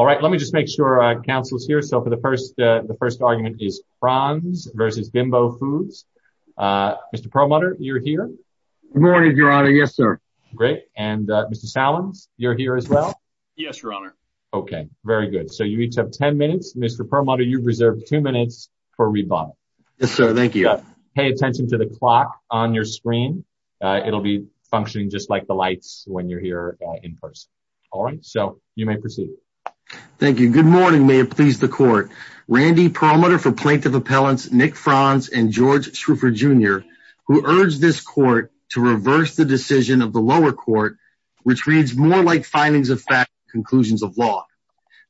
All right, let me just make sure our council is here. So for the first argument is prawns versus bimbo foods. Mr. Perlmutter, you're here. Good morning, your honor, yes, sir. Great, and Mr. Salins, you're here as well? Yes, your honor. Okay, very good. So you each have 10 minutes. Mr. Perlmutter, you've reserved two minutes for rebuttal. Yes, sir, thank you. Pay attention to the clock on your screen. It'll be functioning just like the lights when you're here in person. All right, so you may proceed. Thank you, good morning, may it please the court. Randy Perlmutter for Plaintiff Appellants, Nick Franz and George Shroofer Jr. who urged this court to reverse the decision of the lower court, which reads more like findings of fact than conclusions of law.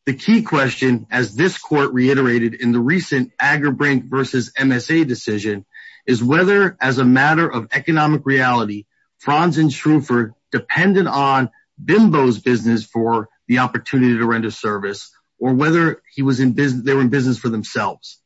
The key question, as this court reiterated in the recent Agerbrink versus MSA decision, is whether as a matter of economic reality, Franz and Shroofer depended on bimbo's business for the opportunity to render service or whether they were in business for themselves.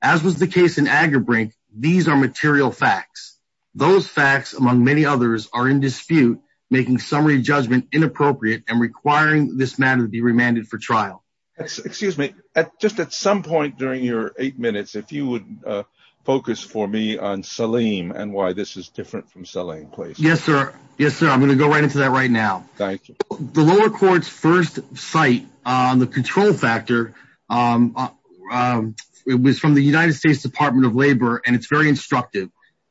As was the case in Agerbrink, these are material facts. Those facts among many others are in dispute, making summary judgment inappropriate and requiring this matter to be remanded for trial. Excuse me, just at some point during your eight minutes, if you would focus for me on Saleem and why this is different from Saleem, please. Yes, sir, yes, sir. I'm gonna go right into that right now. Thank you. The lower court's first site on the control factor was from the United States Department of Labor and it's very instructive.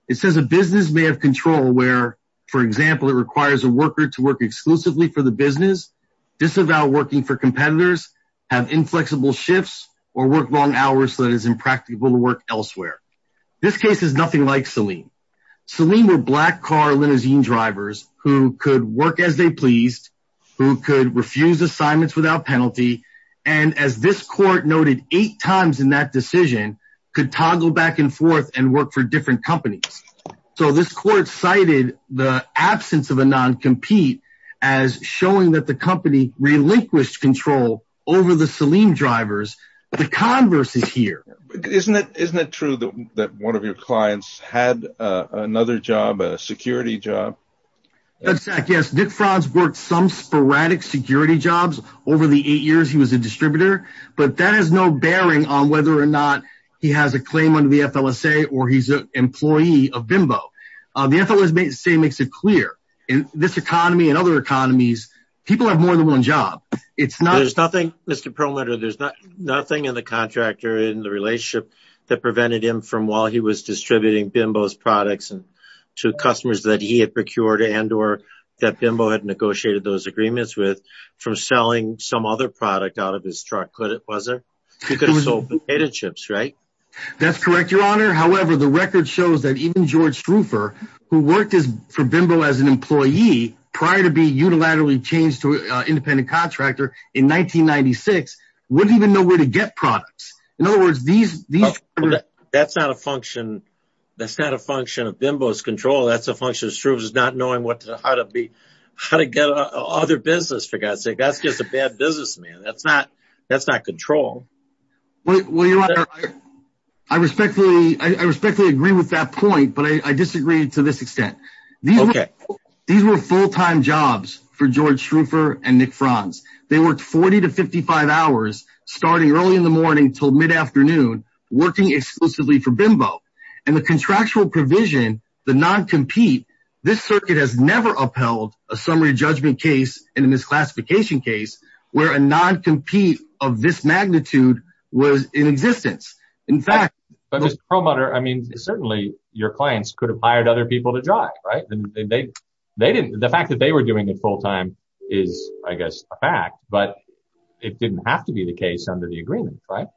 It says a business may have control where, for example, it requires a worker to work exclusively for the business, disavow working for competitors, have inflexible shifts, or work long hours so that it is impractical to work elsewhere. This case is nothing like Saleem. Saleem were black car linozene drivers who could work as they pleased, who could refuse assignments without penalty, and as this court noted eight times in that decision, could toggle back and forth and work for different companies. So this court cited the absence of a non-compete as showing that the company relinquished control over the Saleem drivers. The converse is here. Isn't it true that one of your clients had another job, a security job? That's right, yes. Nick Franz worked some sporadic security jobs over the eight years he was a distributor, but that has no bearing on whether or not he has a claim under the FLSA or he's an employee of Bimbo. The FLSA makes it clear, in this economy and other economies, people have more than one job. It's not- There's nothing, Mr. Perlmutter, there's nothing in the contract or in the relationship that prevented him from, while he was distributing Bimbo's products, to customers that he had procured and or that Bimbo had negotiated those agreements with, from selling some other product out of his truck, could it, was it? He could have sold potato chips, right? That's correct, your honor. However, the record shows that even George Stroofer, who worked for Bimbo as an employee, prior to being unilaterally changed to an independent contractor in 1996, wouldn't even know where to get products. In other words, these- That's not a function, that's not a function of Bimbo's control, that's a function of Stroofer's not knowing what to, how to be, how to get other business, for God's sake. That's just a bad business, man. That's not, that's not control. Well, your honor, I respectfully, I respectfully agree with that point, but I disagree to this extent. These- Okay. These were full-time jobs for George Stroofer and Nick Franz. They worked 40 to 55 hours, starting early in the morning till mid-afternoon, working exclusively for Bimbo. And the contractual provision, the non-compete, this circuit has never upheld a summary judgment case and a misclassification case where a non-compete of this magnitude was in existence. In fact- But Mr. Perlmutter, I mean, certainly your clients could have hired other people to drive, right? And they, they didn't, the fact that they were doing it full-time is, I guess, a fact, but it didn't have to be the case under the agreement, right?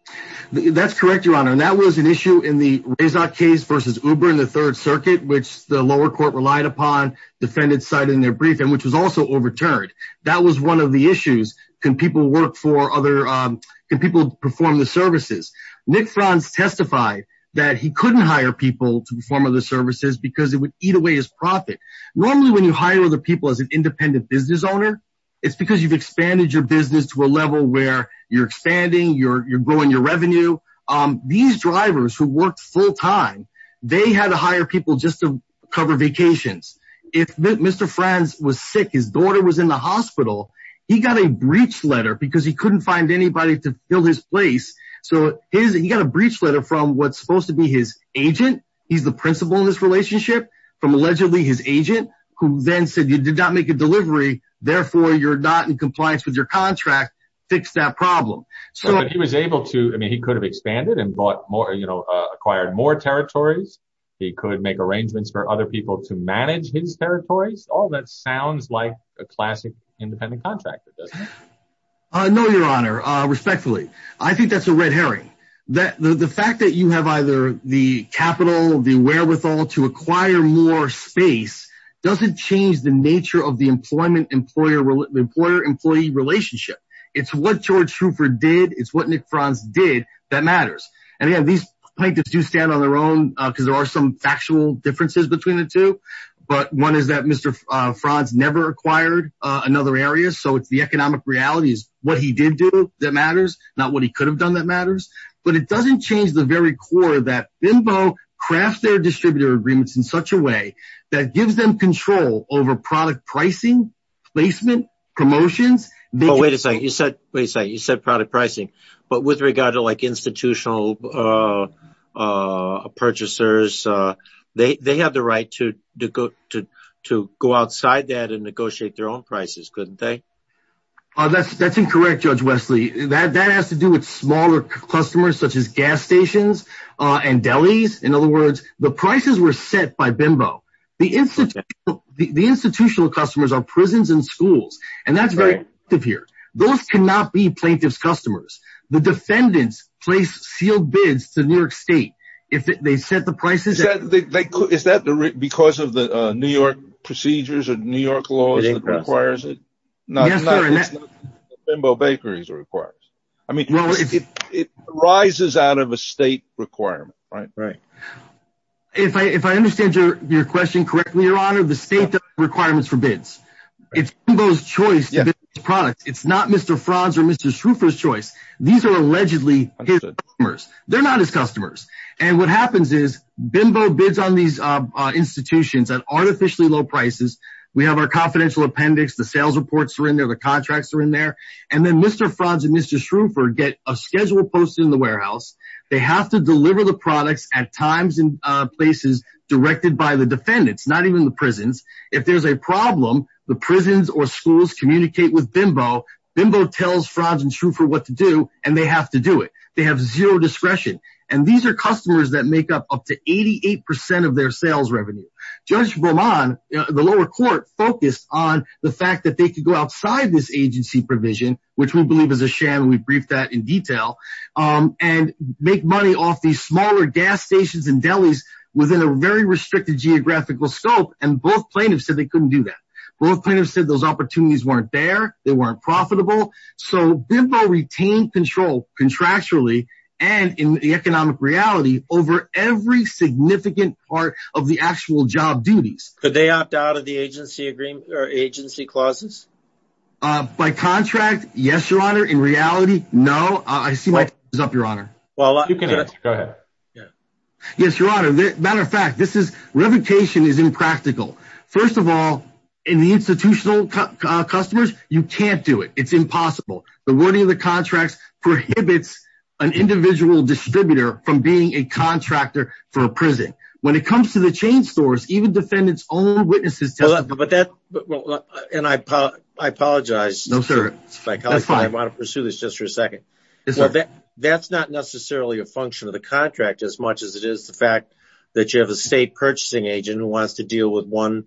That's correct, your honor. And that was an issue in the Rezat case versus Uber in the third circuit, which the lower court relied upon, defendants cited in their brief, and which was also overturned. That was one of the issues. Can people work for other, can people perform the services? Nick Franz testified that he couldn't hire people to perform other services because it would eat away his profit. Normally, when you hire other people as an independent business owner, it's because you've expanded your business to a level where you're expanding, you're growing your revenue. These drivers who worked full-time, they had to hire people just to cover vacations. If Mr. Franz was sick, his daughter was in the hospital, he got a breach letter because he couldn't find anybody to fill his place. So he got a breach letter from what's supposed to be his agent. He's the principal in this relationship from allegedly his agent, who then said, you did not make a delivery, therefore you're not in compliance with your contract, fix that problem. But he was able to, I mean, he could have expanded and bought more, acquired more territories. He could make arrangements for other people to manage his territories. All that sounds like a classic independent contractor, doesn't it? No, Your Honor, respectfully. I think that's a red herring. The fact that you have either the capital, the wherewithal to acquire more space doesn't change the nature of the employer-employee relationship. It's what George Shroofer did, it's what Nick Franz did that matters. And again, these plaintiffs do stand on their own because there are some factual differences between the two. But one is that Mr. Franz never acquired another area. So it's the economic realities, what he did do that matters, not what he could have done that matters. But it doesn't change the very core that BIMBO craft their distributor agreements in such a way that gives them control over product pricing, placement, promotions. Wait a second, you said product pricing, but with regard to like institutional purchasers, they have the right to go outside that and negotiate their own prices, couldn't they? That's incorrect, Judge Wesley. That has to do with smaller customers such as gas stations and delis. In other words, the prices were set by BIMBO. The institutional customers are prisons and schools. And that's right up here. Those cannot be plaintiff's customers. The defendants place sealed bids to New York State if they set the prices. Is that because of the New York procedures or New York laws that requires it? Not BIMBO bakeries requires. I mean, it rises out of a state requirement, right? Right. If I understand your question correctly, Your Honor, the state requirements for bids. It's BIMBO's choice to bid on the product. It's not Mr. Franz or Mr. Schroofer's choice. These are allegedly his customers. They're not his customers. And what happens is BIMBO bids on these institutions at artificially low prices. We have our confidential appendix, the sales reports are in there, the contracts are in there. And then Mr. Franz and Mr. Schroofer get a schedule posted in the warehouse. They have to deliver the products at times and places directed by the defendants, not even the prisons. If there's a problem, the prisons or schools communicate with BIMBO, BIMBO tells Franz and Schroofer what to do and they have to do it. They have zero discretion. And these are customers that make up up to 88% of their sales revenue. Judge Beaumont, the lower court focused on the fact that they could go outside this agency provision, which we believe is a sham and we briefed that in detail, and make money off these smaller gas stations and delis within a very restricted geographical scope. And both plaintiffs said they couldn't do that. Both plaintiffs said those opportunities weren't there, they weren't profitable. So BIMBO retained control contractually and in the economic reality over every significant part of the actual job duties. Could they opt out of the agency clauses? By contract, yes, your honor. In reality, no. I see my time is up, your honor. Well, you can go ahead. Yes, your honor. Matter of fact, revocation is impractical. First of all, in the institutional customers, you can't do it. It's impossible. The wording of the contracts prohibits an individual distributor from being a contractor for a prison. When it comes to the chain stores, even defendants own witnesses testify. But that, and I apologize. No, sir. That's fine. I want to pursue this just for a second. That's not necessarily a function of the contract as much as it is the fact that you have a state purchasing agent who wants to deal with one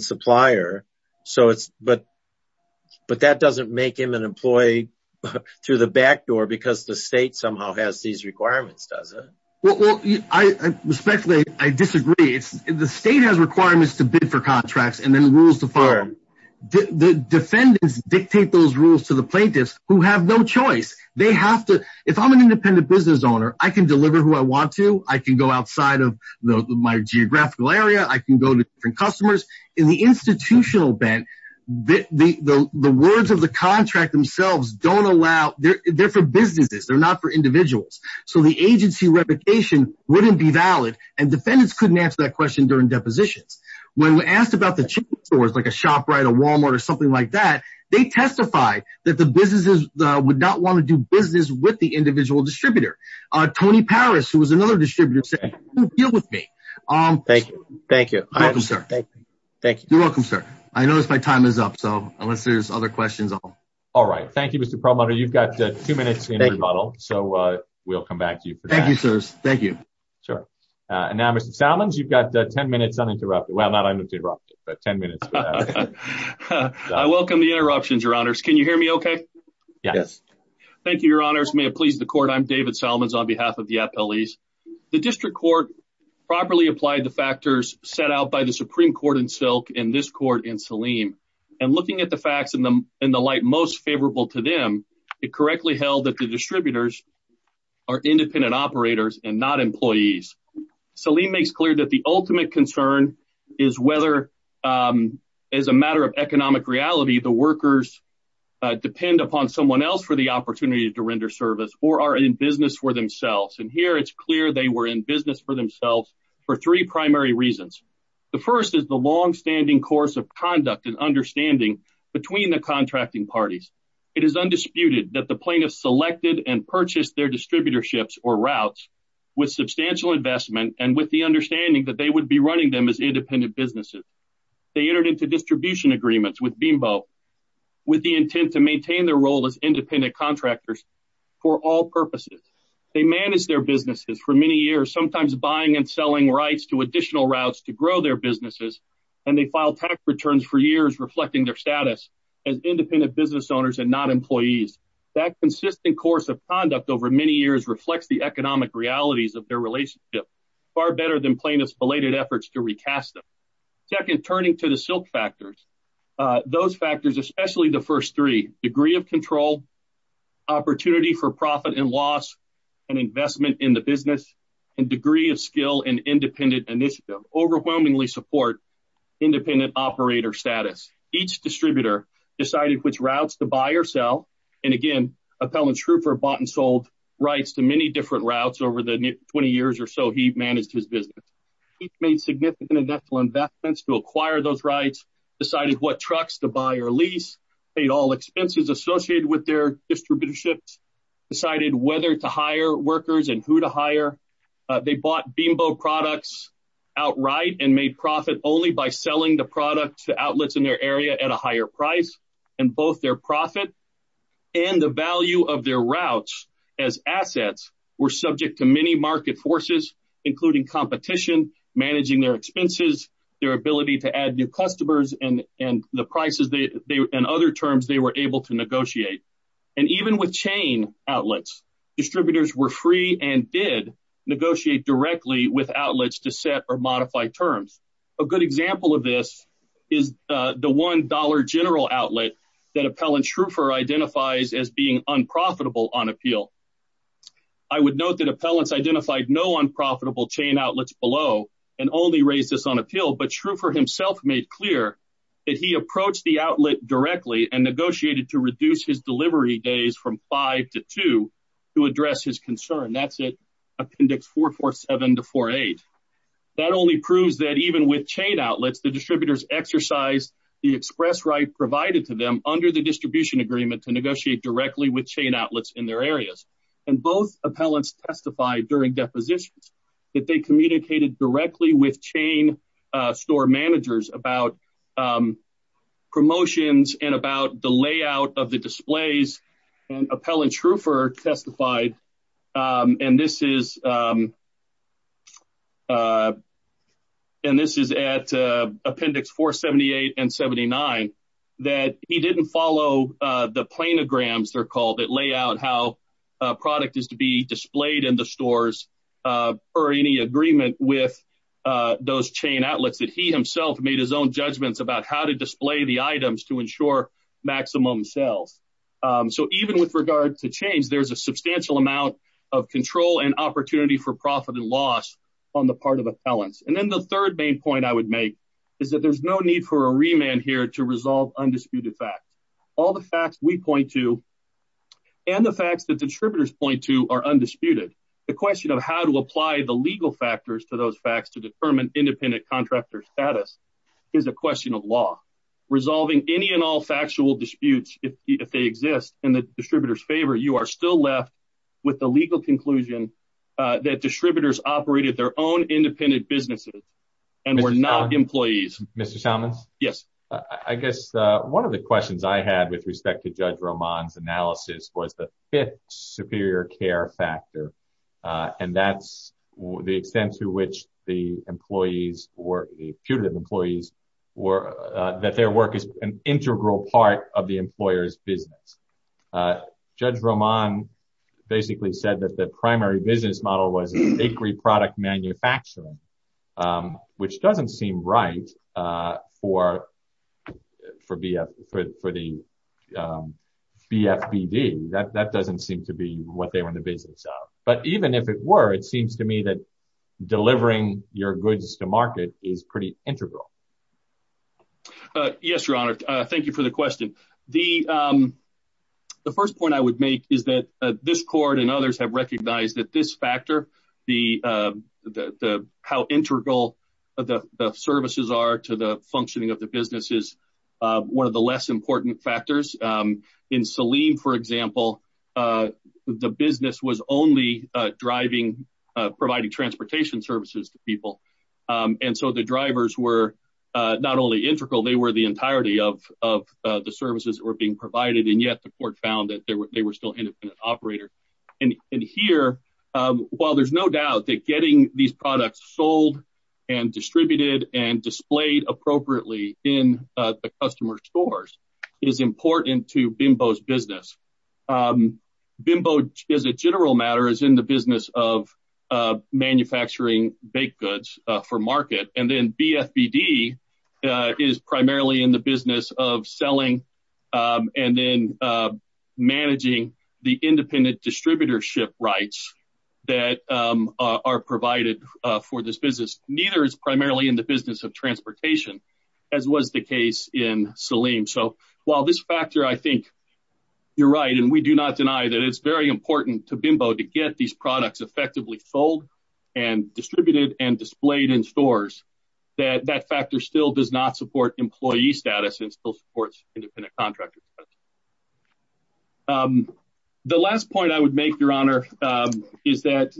supplier. So it's, but that doesn't make him an employee through the back door because the state somehow has these requirements, does it? Well, respectfully, I disagree. The state has requirements to bid for contracts and then rules to fire them. The defendants dictate those rules to the plaintiffs who have no choice. They have to, if I'm an independent business owner, I can deliver who I want to. I can go outside of my geographical area. I can go to different customers. In the institutional bent, the words of the contract themselves don't allow, they're for businesses. They're not for individuals. So the agency replication wouldn't be valid. And defendants couldn't answer that question during depositions. When we asked about the chain stores, like a ShopRite or Walmart or something like that, they testified that the businesses would not want to do business with the individual distributor. Tony Paris, who was another distributor, said, don't deal with me. Thank you. Thank you. You're welcome, sir. Thank you. You're welcome, sir. I noticed my time is up, so unless there's other questions, I'll... All right. Thank you, Mr. Perlmutter. You've got two minutes in rebuttal. So we'll come back to you for that. Thank you, sirs. Thank you. Sure. And now, Mr. Salmons, you've got 10 minutes uninterrupted. Well, not uninterrupted, but 10 minutes for that. I welcome the interruptions, your honors. Can you hear me okay? Yes. Thank you, your honors. May it please the court. I'm David Salmons on behalf of the appellees. The district court properly applied the factors set out by the Supreme Court in Silk and this court in Saleem. And looking at the facts in the light most favorable to them, it correctly held that the distributors are independent operators and not employees. Saleem makes clear that the ultimate concern is whether as a matter of economic reality, the workers depend upon someone else for the opportunity to render service or are in business for themselves. And here it's clear they were in business for themselves for three primary reasons. The first is the longstanding course of conduct and understanding between the contracting parties. It is undisputed that the plaintiff selected and purchased their distributorships or routes with substantial investment and with the understanding that they would be running them as independent businesses. They entered into distribution agreements with BMBO with the intent to maintain their role as independent contractors for all purposes. They manage their businesses for many years, sometimes buying and selling rights to additional routes to grow their businesses. And they file tax returns for years, reflecting their status as independent business owners and not employees. That consistent course of conduct over many years reflects the economic realities of their relationship far better than plaintiff's belated efforts to recast them. Second, turning to the silk factors, those factors, especially the first three, degree of control, opportunity for profit and loss, and investment in the business, and degree of skill and independent initiative overwhelmingly support independent operator status. Each distributor decided which routes to buy or sell. And again, Appellant Schroepfer bought and sold rights to many different routes over the 20 years or so he managed his business. He made significant investments to acquire those rights, decided what trucks to buy or lease, paid all expenses associated with their distributorships, decided whether to hire workers and who to hire. They bought BMBO products outright and made profit only by selling the products to outlets in their area at a higher price. And both their profit and the value of their routes as assets were subject to many market forces, including competition, managing their expenses, their ability to add new customers and the prices and other terms they were able to negotiate. And even with chain outlets, distributors were free and did negotiate directly with outlets to set or modify terms. A good example of this is the $1 general outlet that Appellant Schroepfer identifies as being unprofitable on appeal. I would note that Appellants identified no unprofitable chain outlets below and only raised this on appeal, but Schroepfer himself made clear that he approached the outlet directly and negotiated to reduce his delivery days from five to two to address his concern. That's it, appendix 447 to 48. That only proves that even with chain outlets, the distributors exercised the express right provided to them under the distribution agreement to negotiate directly with chain outlets in their areas. And both appellants testified during depositions that they communicated directly with chain store managers about promotions and about the layout of the displays and Appellant Schroepfer testified. And this is, and this is at appendix 478 and 79 that he didn't follow the planograms, they're called, that lay out how a product is to be displayed in the stores or any agreement with those chain outlets that he himself made his own judgments about how to display the items to ensure maximum sales. So even with regard to change, there's a substantial amount of control and opportunity for profit and loss on the part of appellants. And then the third main point I would make is that there's no need for a remand here to resolve undisputed facts. All the facts we point to and the facts that distributors point to are undisputed. The question of how to apply the legal factors to those facts to determine independent contractor status is a question of law. Resolving any and all factual disputes, if they exist in the distributor's favor, you are still left with the legal conclusion that distributors operated their own independent businesses and were not employees. Mr. Chalmers? Yes. I guess one of the questions I had with respect to Judge Roman's analysis was the fifth superior care factor. And that's the extent to which the employees or the putative employees were, that their work is an integral part of the employer's business. Judge Roman basically said that the primary business model was a bakery product manufacturing, which doesn't seem right for the BFBD. That doesn't seem to be what they were in the business of. But even if it were, it seems to me that delivering your goods to market is pretty integral. Yes, Your Honor. Thank you for the question. The first point I would make is that this court and others have recognized that this factor, the how integral the services are to the functioning of the business is one of the less important factors. In Saleem, for example, the business was only driving, providing transportation services to people. And so the drivers were not only integral, they were the entirety of the services that were being provided. And yet the court found that they were still independent operators. And here, while there's no doubt that getting these products sold and distributed and displayed appropriately in the customer stores is important to BIMBO's business. BIMBO as a general matter is in the business of manufacturing baked goods for market. And then managing the independent distributorship rights that are provided for this business. Neither is primarily in the business of transportation as was the case in Saleem. So while this factor, I think you're right. And we do not deny that it's very important to BIMBO to get these products effectively sold and distributed and displayed in stores that that factor still does not support employee status and still supports independent contractors. The last point I would make, Your Honor, is that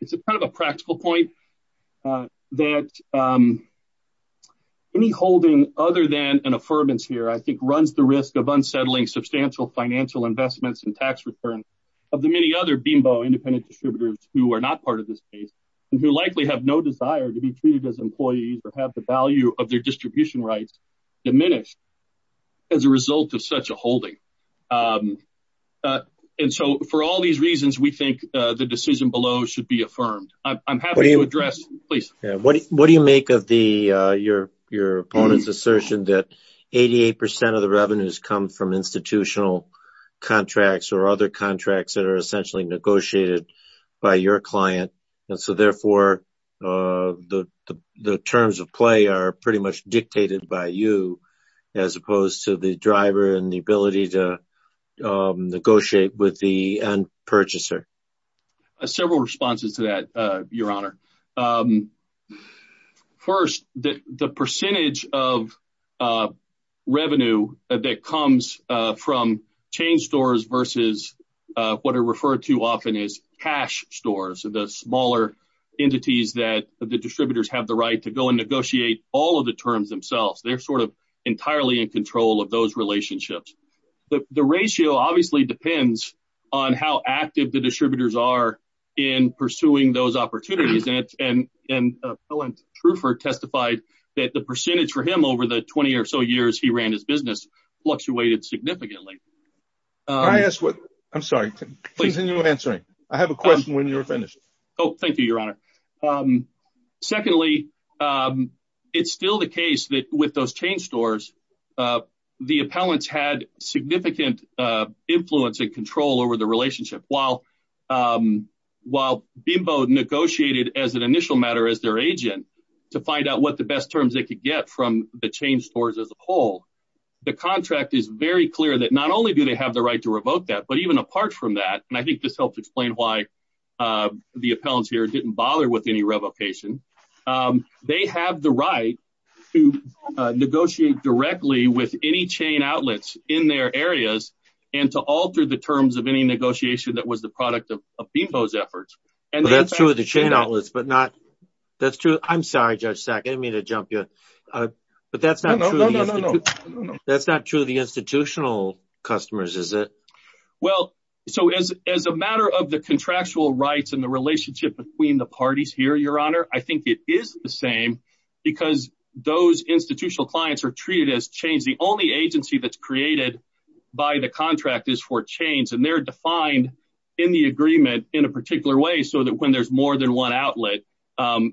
it's a kind of a practical point that any holding other than an affirmance here, I think runs the risk of unsettling substantial financial investments and tax returns of the many other BIMBO independent distributors who are not part of this case and who likely have no desire to be treated as employees or have the value of their distribution rights diminished as a result of such a holding. And so for all these reasons, we think the decision below should be affirmed. I'm happy to address, please. What do you make of your opponent's assertion that 88% of the revenues come from institutional contracts or other contracts that are essentially negotiated by your client? And so therefore the terms of play are pretty much dictated by you as opposed to the driver and the ability to negotiate with the end purchaser. Several responses to that, Your Honor. First, the percentage of revenue that comes from chain stores versus what are referred to often as cash stores, the smaller entities that the distributors have the right to go and negotiate all of the terms themselves. They're sort of entirely in control of those relationships. But the ratio obviously depends on how active the distributors are in pursuing those opportunities. And Bill and Trufer testified that the percentage for him over the 20 or so years he ran his business fluctuated significantly. I'm sorry, please continue answering. I have a question when you're finished. Oh, thank you, Your Honor. Secondly, it's still the case that with those chain stores, the appellants had significant influence and control over the relationship. While BIMBO negotiated as an initial matter as their agent to find out what the best terms they could get from the chain stores as a whole, the contract is very clear that not only do they have the right to revoke that, but even apart from that, and I think this helps explain why the appellants here didn't bother with any revocation, they have the right to negotiate directly with any chain outlets in their areas and to alter the terms of any negotiation that was the product of BIMBO's efforts. And that's true of the chain outlets, but not... That's true. I'm sorry, Judge Sack, I didn't mean to jump you. But that's not true. No, no, no, no, no. That's not true of the institutional customers, is it? Well, so as a matter of the contractual rights and the relationship between the parties here, Your Honor, I think it is the same because those institutional clients are treated as chains. The only agency that's created by the contract is for chains and they're defined in the agreement in a particular way so that when there's more than one outlet,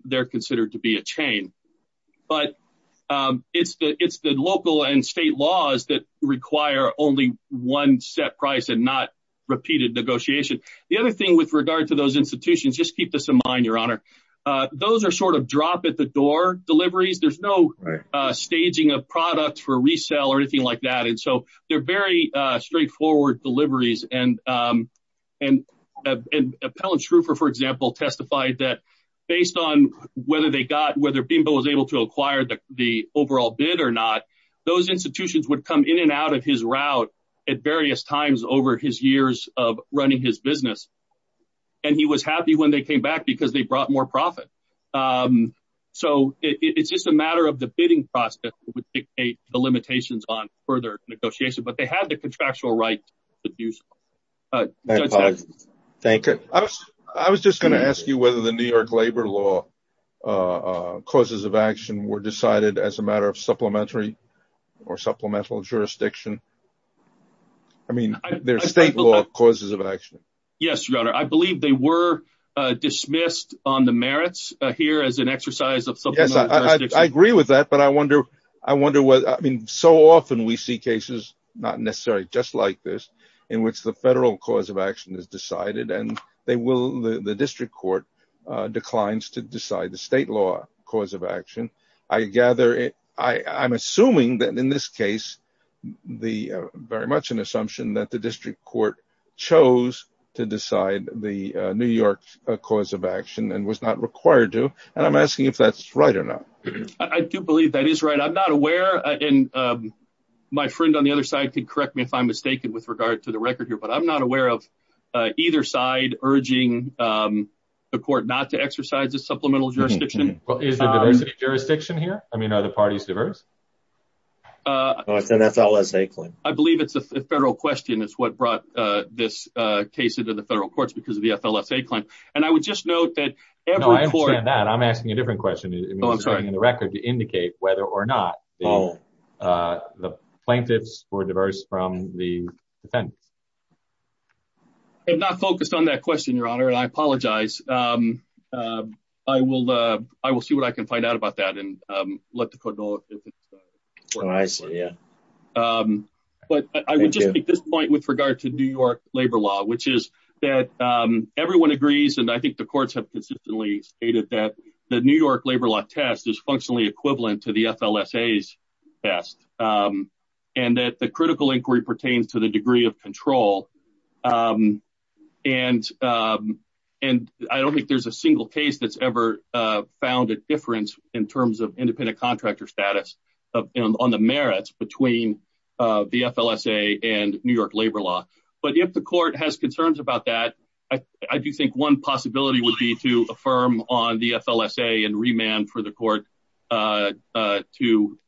they're considered to be a chain. But it's the local and state laws that require only one set price and not repeated negotiation. The other thing with regard to those institutions, just keep this in mind, Your Honor, those are sort of drop at the door deliveries. There's no staging of products for resale or anything like that. And so they're very straightforward deliveries. And Appellant Shroofer, for example, testified that based on whether they got, whether BIMBO was able to acquire the overall bid or not, those institutions would come in and out of his route at various times over his years of running his business. And he was happy when they came back because they brought more profit. So it's just a matter of the bidding process that would dictate the limitations on further negotiation, but they had the contractual rights to do so. Judge Sacks. Thank you. I was just gonna ask you whether the New York labor law causes of action were decided as a matter of supplementary or supplemental jurisdiction. I mean, they're state law causes of action. Yes, Your Honor. I believe they were dismissed on the merits here as an exercise of supplemental jurisdiction. I agree with that, but I wonder, I mean, so often we see cases, not necessarily just like this, in which the federal cause of action is decided and the district court declines to decide the state law cause of action. I gather, I'm assuming that in this case, very much an assumption that the district court chose to decide the New York cause of action and was not required to. And I'm asking if that's right or not. I do believe that is right. I'm not aware, and my friend on the other side could correct me if I'm mistaken with regard to the record here, but I'm not aware of either side urging the court not to exercise a supplemental jurisdiction. Well, is there diversity of jurisdiction here? I mean, are the parties diverse? Oh, it's an FLSA claim. I believe it's a federal question is what brought this case into the federal courts because of the FLSA claim. And I would just note that every court- No, I understand that. I'm asking a different question. Oh, I'm sorry. I mean, it's written in the record to indicate whether or not the plaintiffs were diverse from the defendants. I'm not focused on that question, Your Honor, and I apologize. I will see what I can find out about that and let the court know if it's- Oh, I see, yeah. But I would just make this point with regard to New York labor law, which is that everyone agrees, and I think the courts have consistently stated that the New York labor law test is functionally equivalent to the FLSA's test, and that the critical inquiry pertains to the degree of control. And I don't think there's a single case that's ever found a difference in terms of independent contractor status on the merits between the FLSA and New York labor law. But if the court has concerns about that, I do think one possibility would be to affirm on the FLSA and remand for the court to, you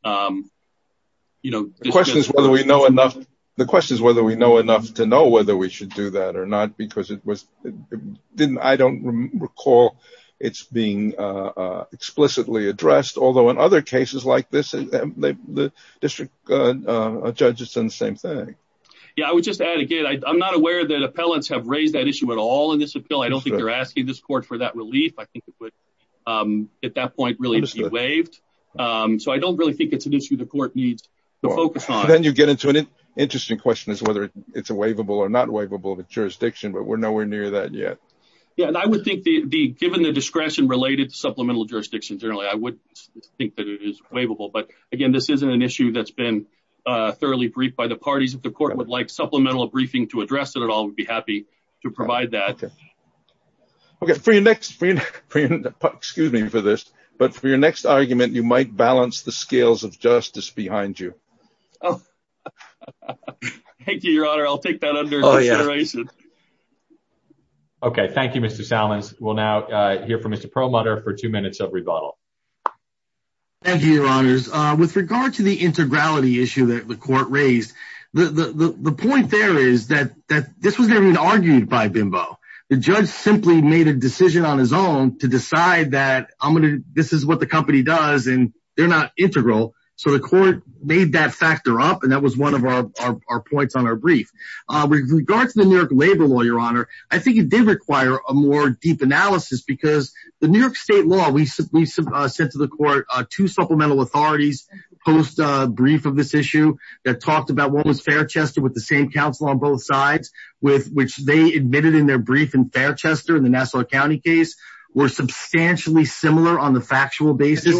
know- The question is whether we know enough- The question is whether we know enough to know whether we should do that or not, because I don't recall it's being explicitly addressed, although in other cases like this, the district judge has done the same thing. Yeah, I would just add again, I'm not aware that appellants have raised that issue at all in this appeal. I don't think they're asking this court for that relief. I think it would, at that point, really be waived. So I don't really think it's an issue the court needs to focus on. Then you get into an interesting question as whether it's a waivable or not waivable jurisdiction, but we're nowhere near that yet. Yeah, and I would think, given the discretion related to supplemental jurisdiction generally, I would think that it is waivable. But again, this isn't an issue that's been thoroughly briefed by the parties. If the court would like supplemental briefing to address it at all, we'd be happy to provide that. Okay, for your next, excuse me for this, but for your next argument, you might balance the scales of justice behind you. Oh, thank you, Your Honor. I'll take that under consideration. Okay, thank you, Mr. Salmons. We'll now hear from Mr. Perlmutter for two minutes of rebuttal. Thank you, Your Honors. With regard to the integrality issue that the court raised, the point there is that this was never even argued by BIMBO. The judge simply made a decision on his own to decide that this is what the company does and they're not integral. So the court made that factor up and that was one of our points on our brief. With regard to the New York labor law, Your Honor, I think it did require a more deep analysis because the New York state law, we sent to the court two supplemental authorities post-brief of this issue that talked about what was Fairchester with the same counsel on both sides, which they admitted in their brief in Fairchester in the Nassau County case, were substantially similar on the factual basis.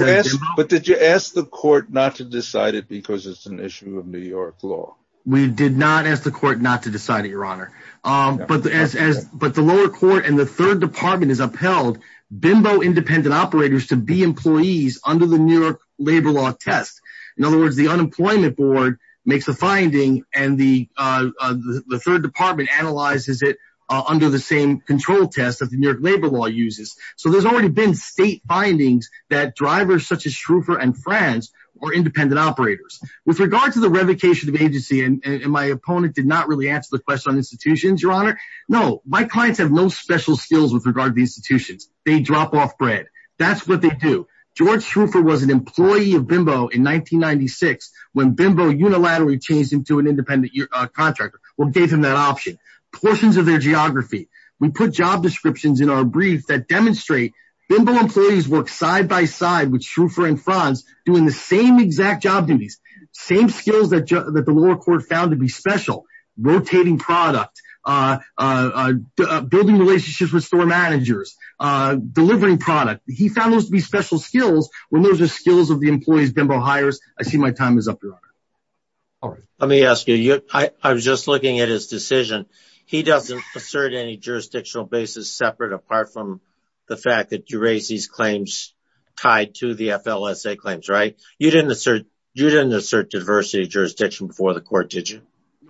But did you ask the court not to decide it because it's an issue of New York law? We did not ask the court not to decide it, Your Honor. But the lower court and the third department has upheld BIMBO independent operators to be employees under the New York labor law test. In other words, the unemployment board makes a finding and the third department analyzes it under the same control test that the New York labor law uses. So there's already been state findings that drivers such as Shroofer and Franz were independent operators. With regard to the revocation of agency, and my opponent did not really answer the question on institutions, Your Honor, no, my clients have no special skills with regard to the institutions. They drop off bread. That's what they do. George Shroofer was an employee of BIMBO in 1996 when BIMBO unilaterally changed him to an independent contractor or gave him that option. Portions of their geography. We put job descriptions in our brief that demonstrate BIMBO employees work side by side with Shroofer and Franz doing the same exact job duties, same skills that the lower court found to be special. Rotating product, building relationships with store managers, delivering product. He found those to be special skills when those are skills of the employees BIMBO hires. I see my time is up, Your Honor. All right. Let me ask you, I was just looking at his decision. He doesn't assert any jurisdictional basis separate apart from the fact that you raise these claims tied to the FLSA claims, right? You didn't assert diversity of jurisdiction before the court, did you?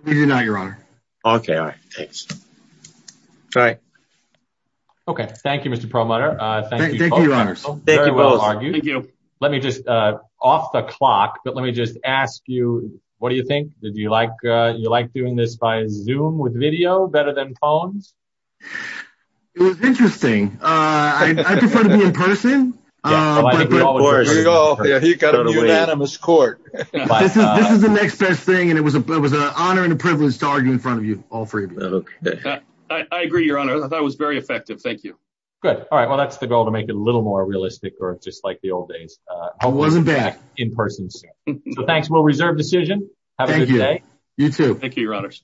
No, Your Honor. Okay, all right. Thanks. All right. Thank you, Mr. Perlmutter. Thank you both. Thank you, Your Honor. Thank you both. Thank you. Let me just, off the clock, but let me just ask you, what do you think? Did you like doing this via Zoom with video better than phones? It was interesting. I prefer to be in person. I agree, of course. You've got a unanimous court. This is the next best thing, and it was an honor and a privilege to argue in front of you all freely. I agree, Your Honor. That was very effective. Thank you. Good. All right. Well, that's the goal to make it a little more realistic or just like the old days. I wasn't bad. In person. So thanks. We'll reserve decision. Have a good day. Thank you. You too. Thank you, Your Honors.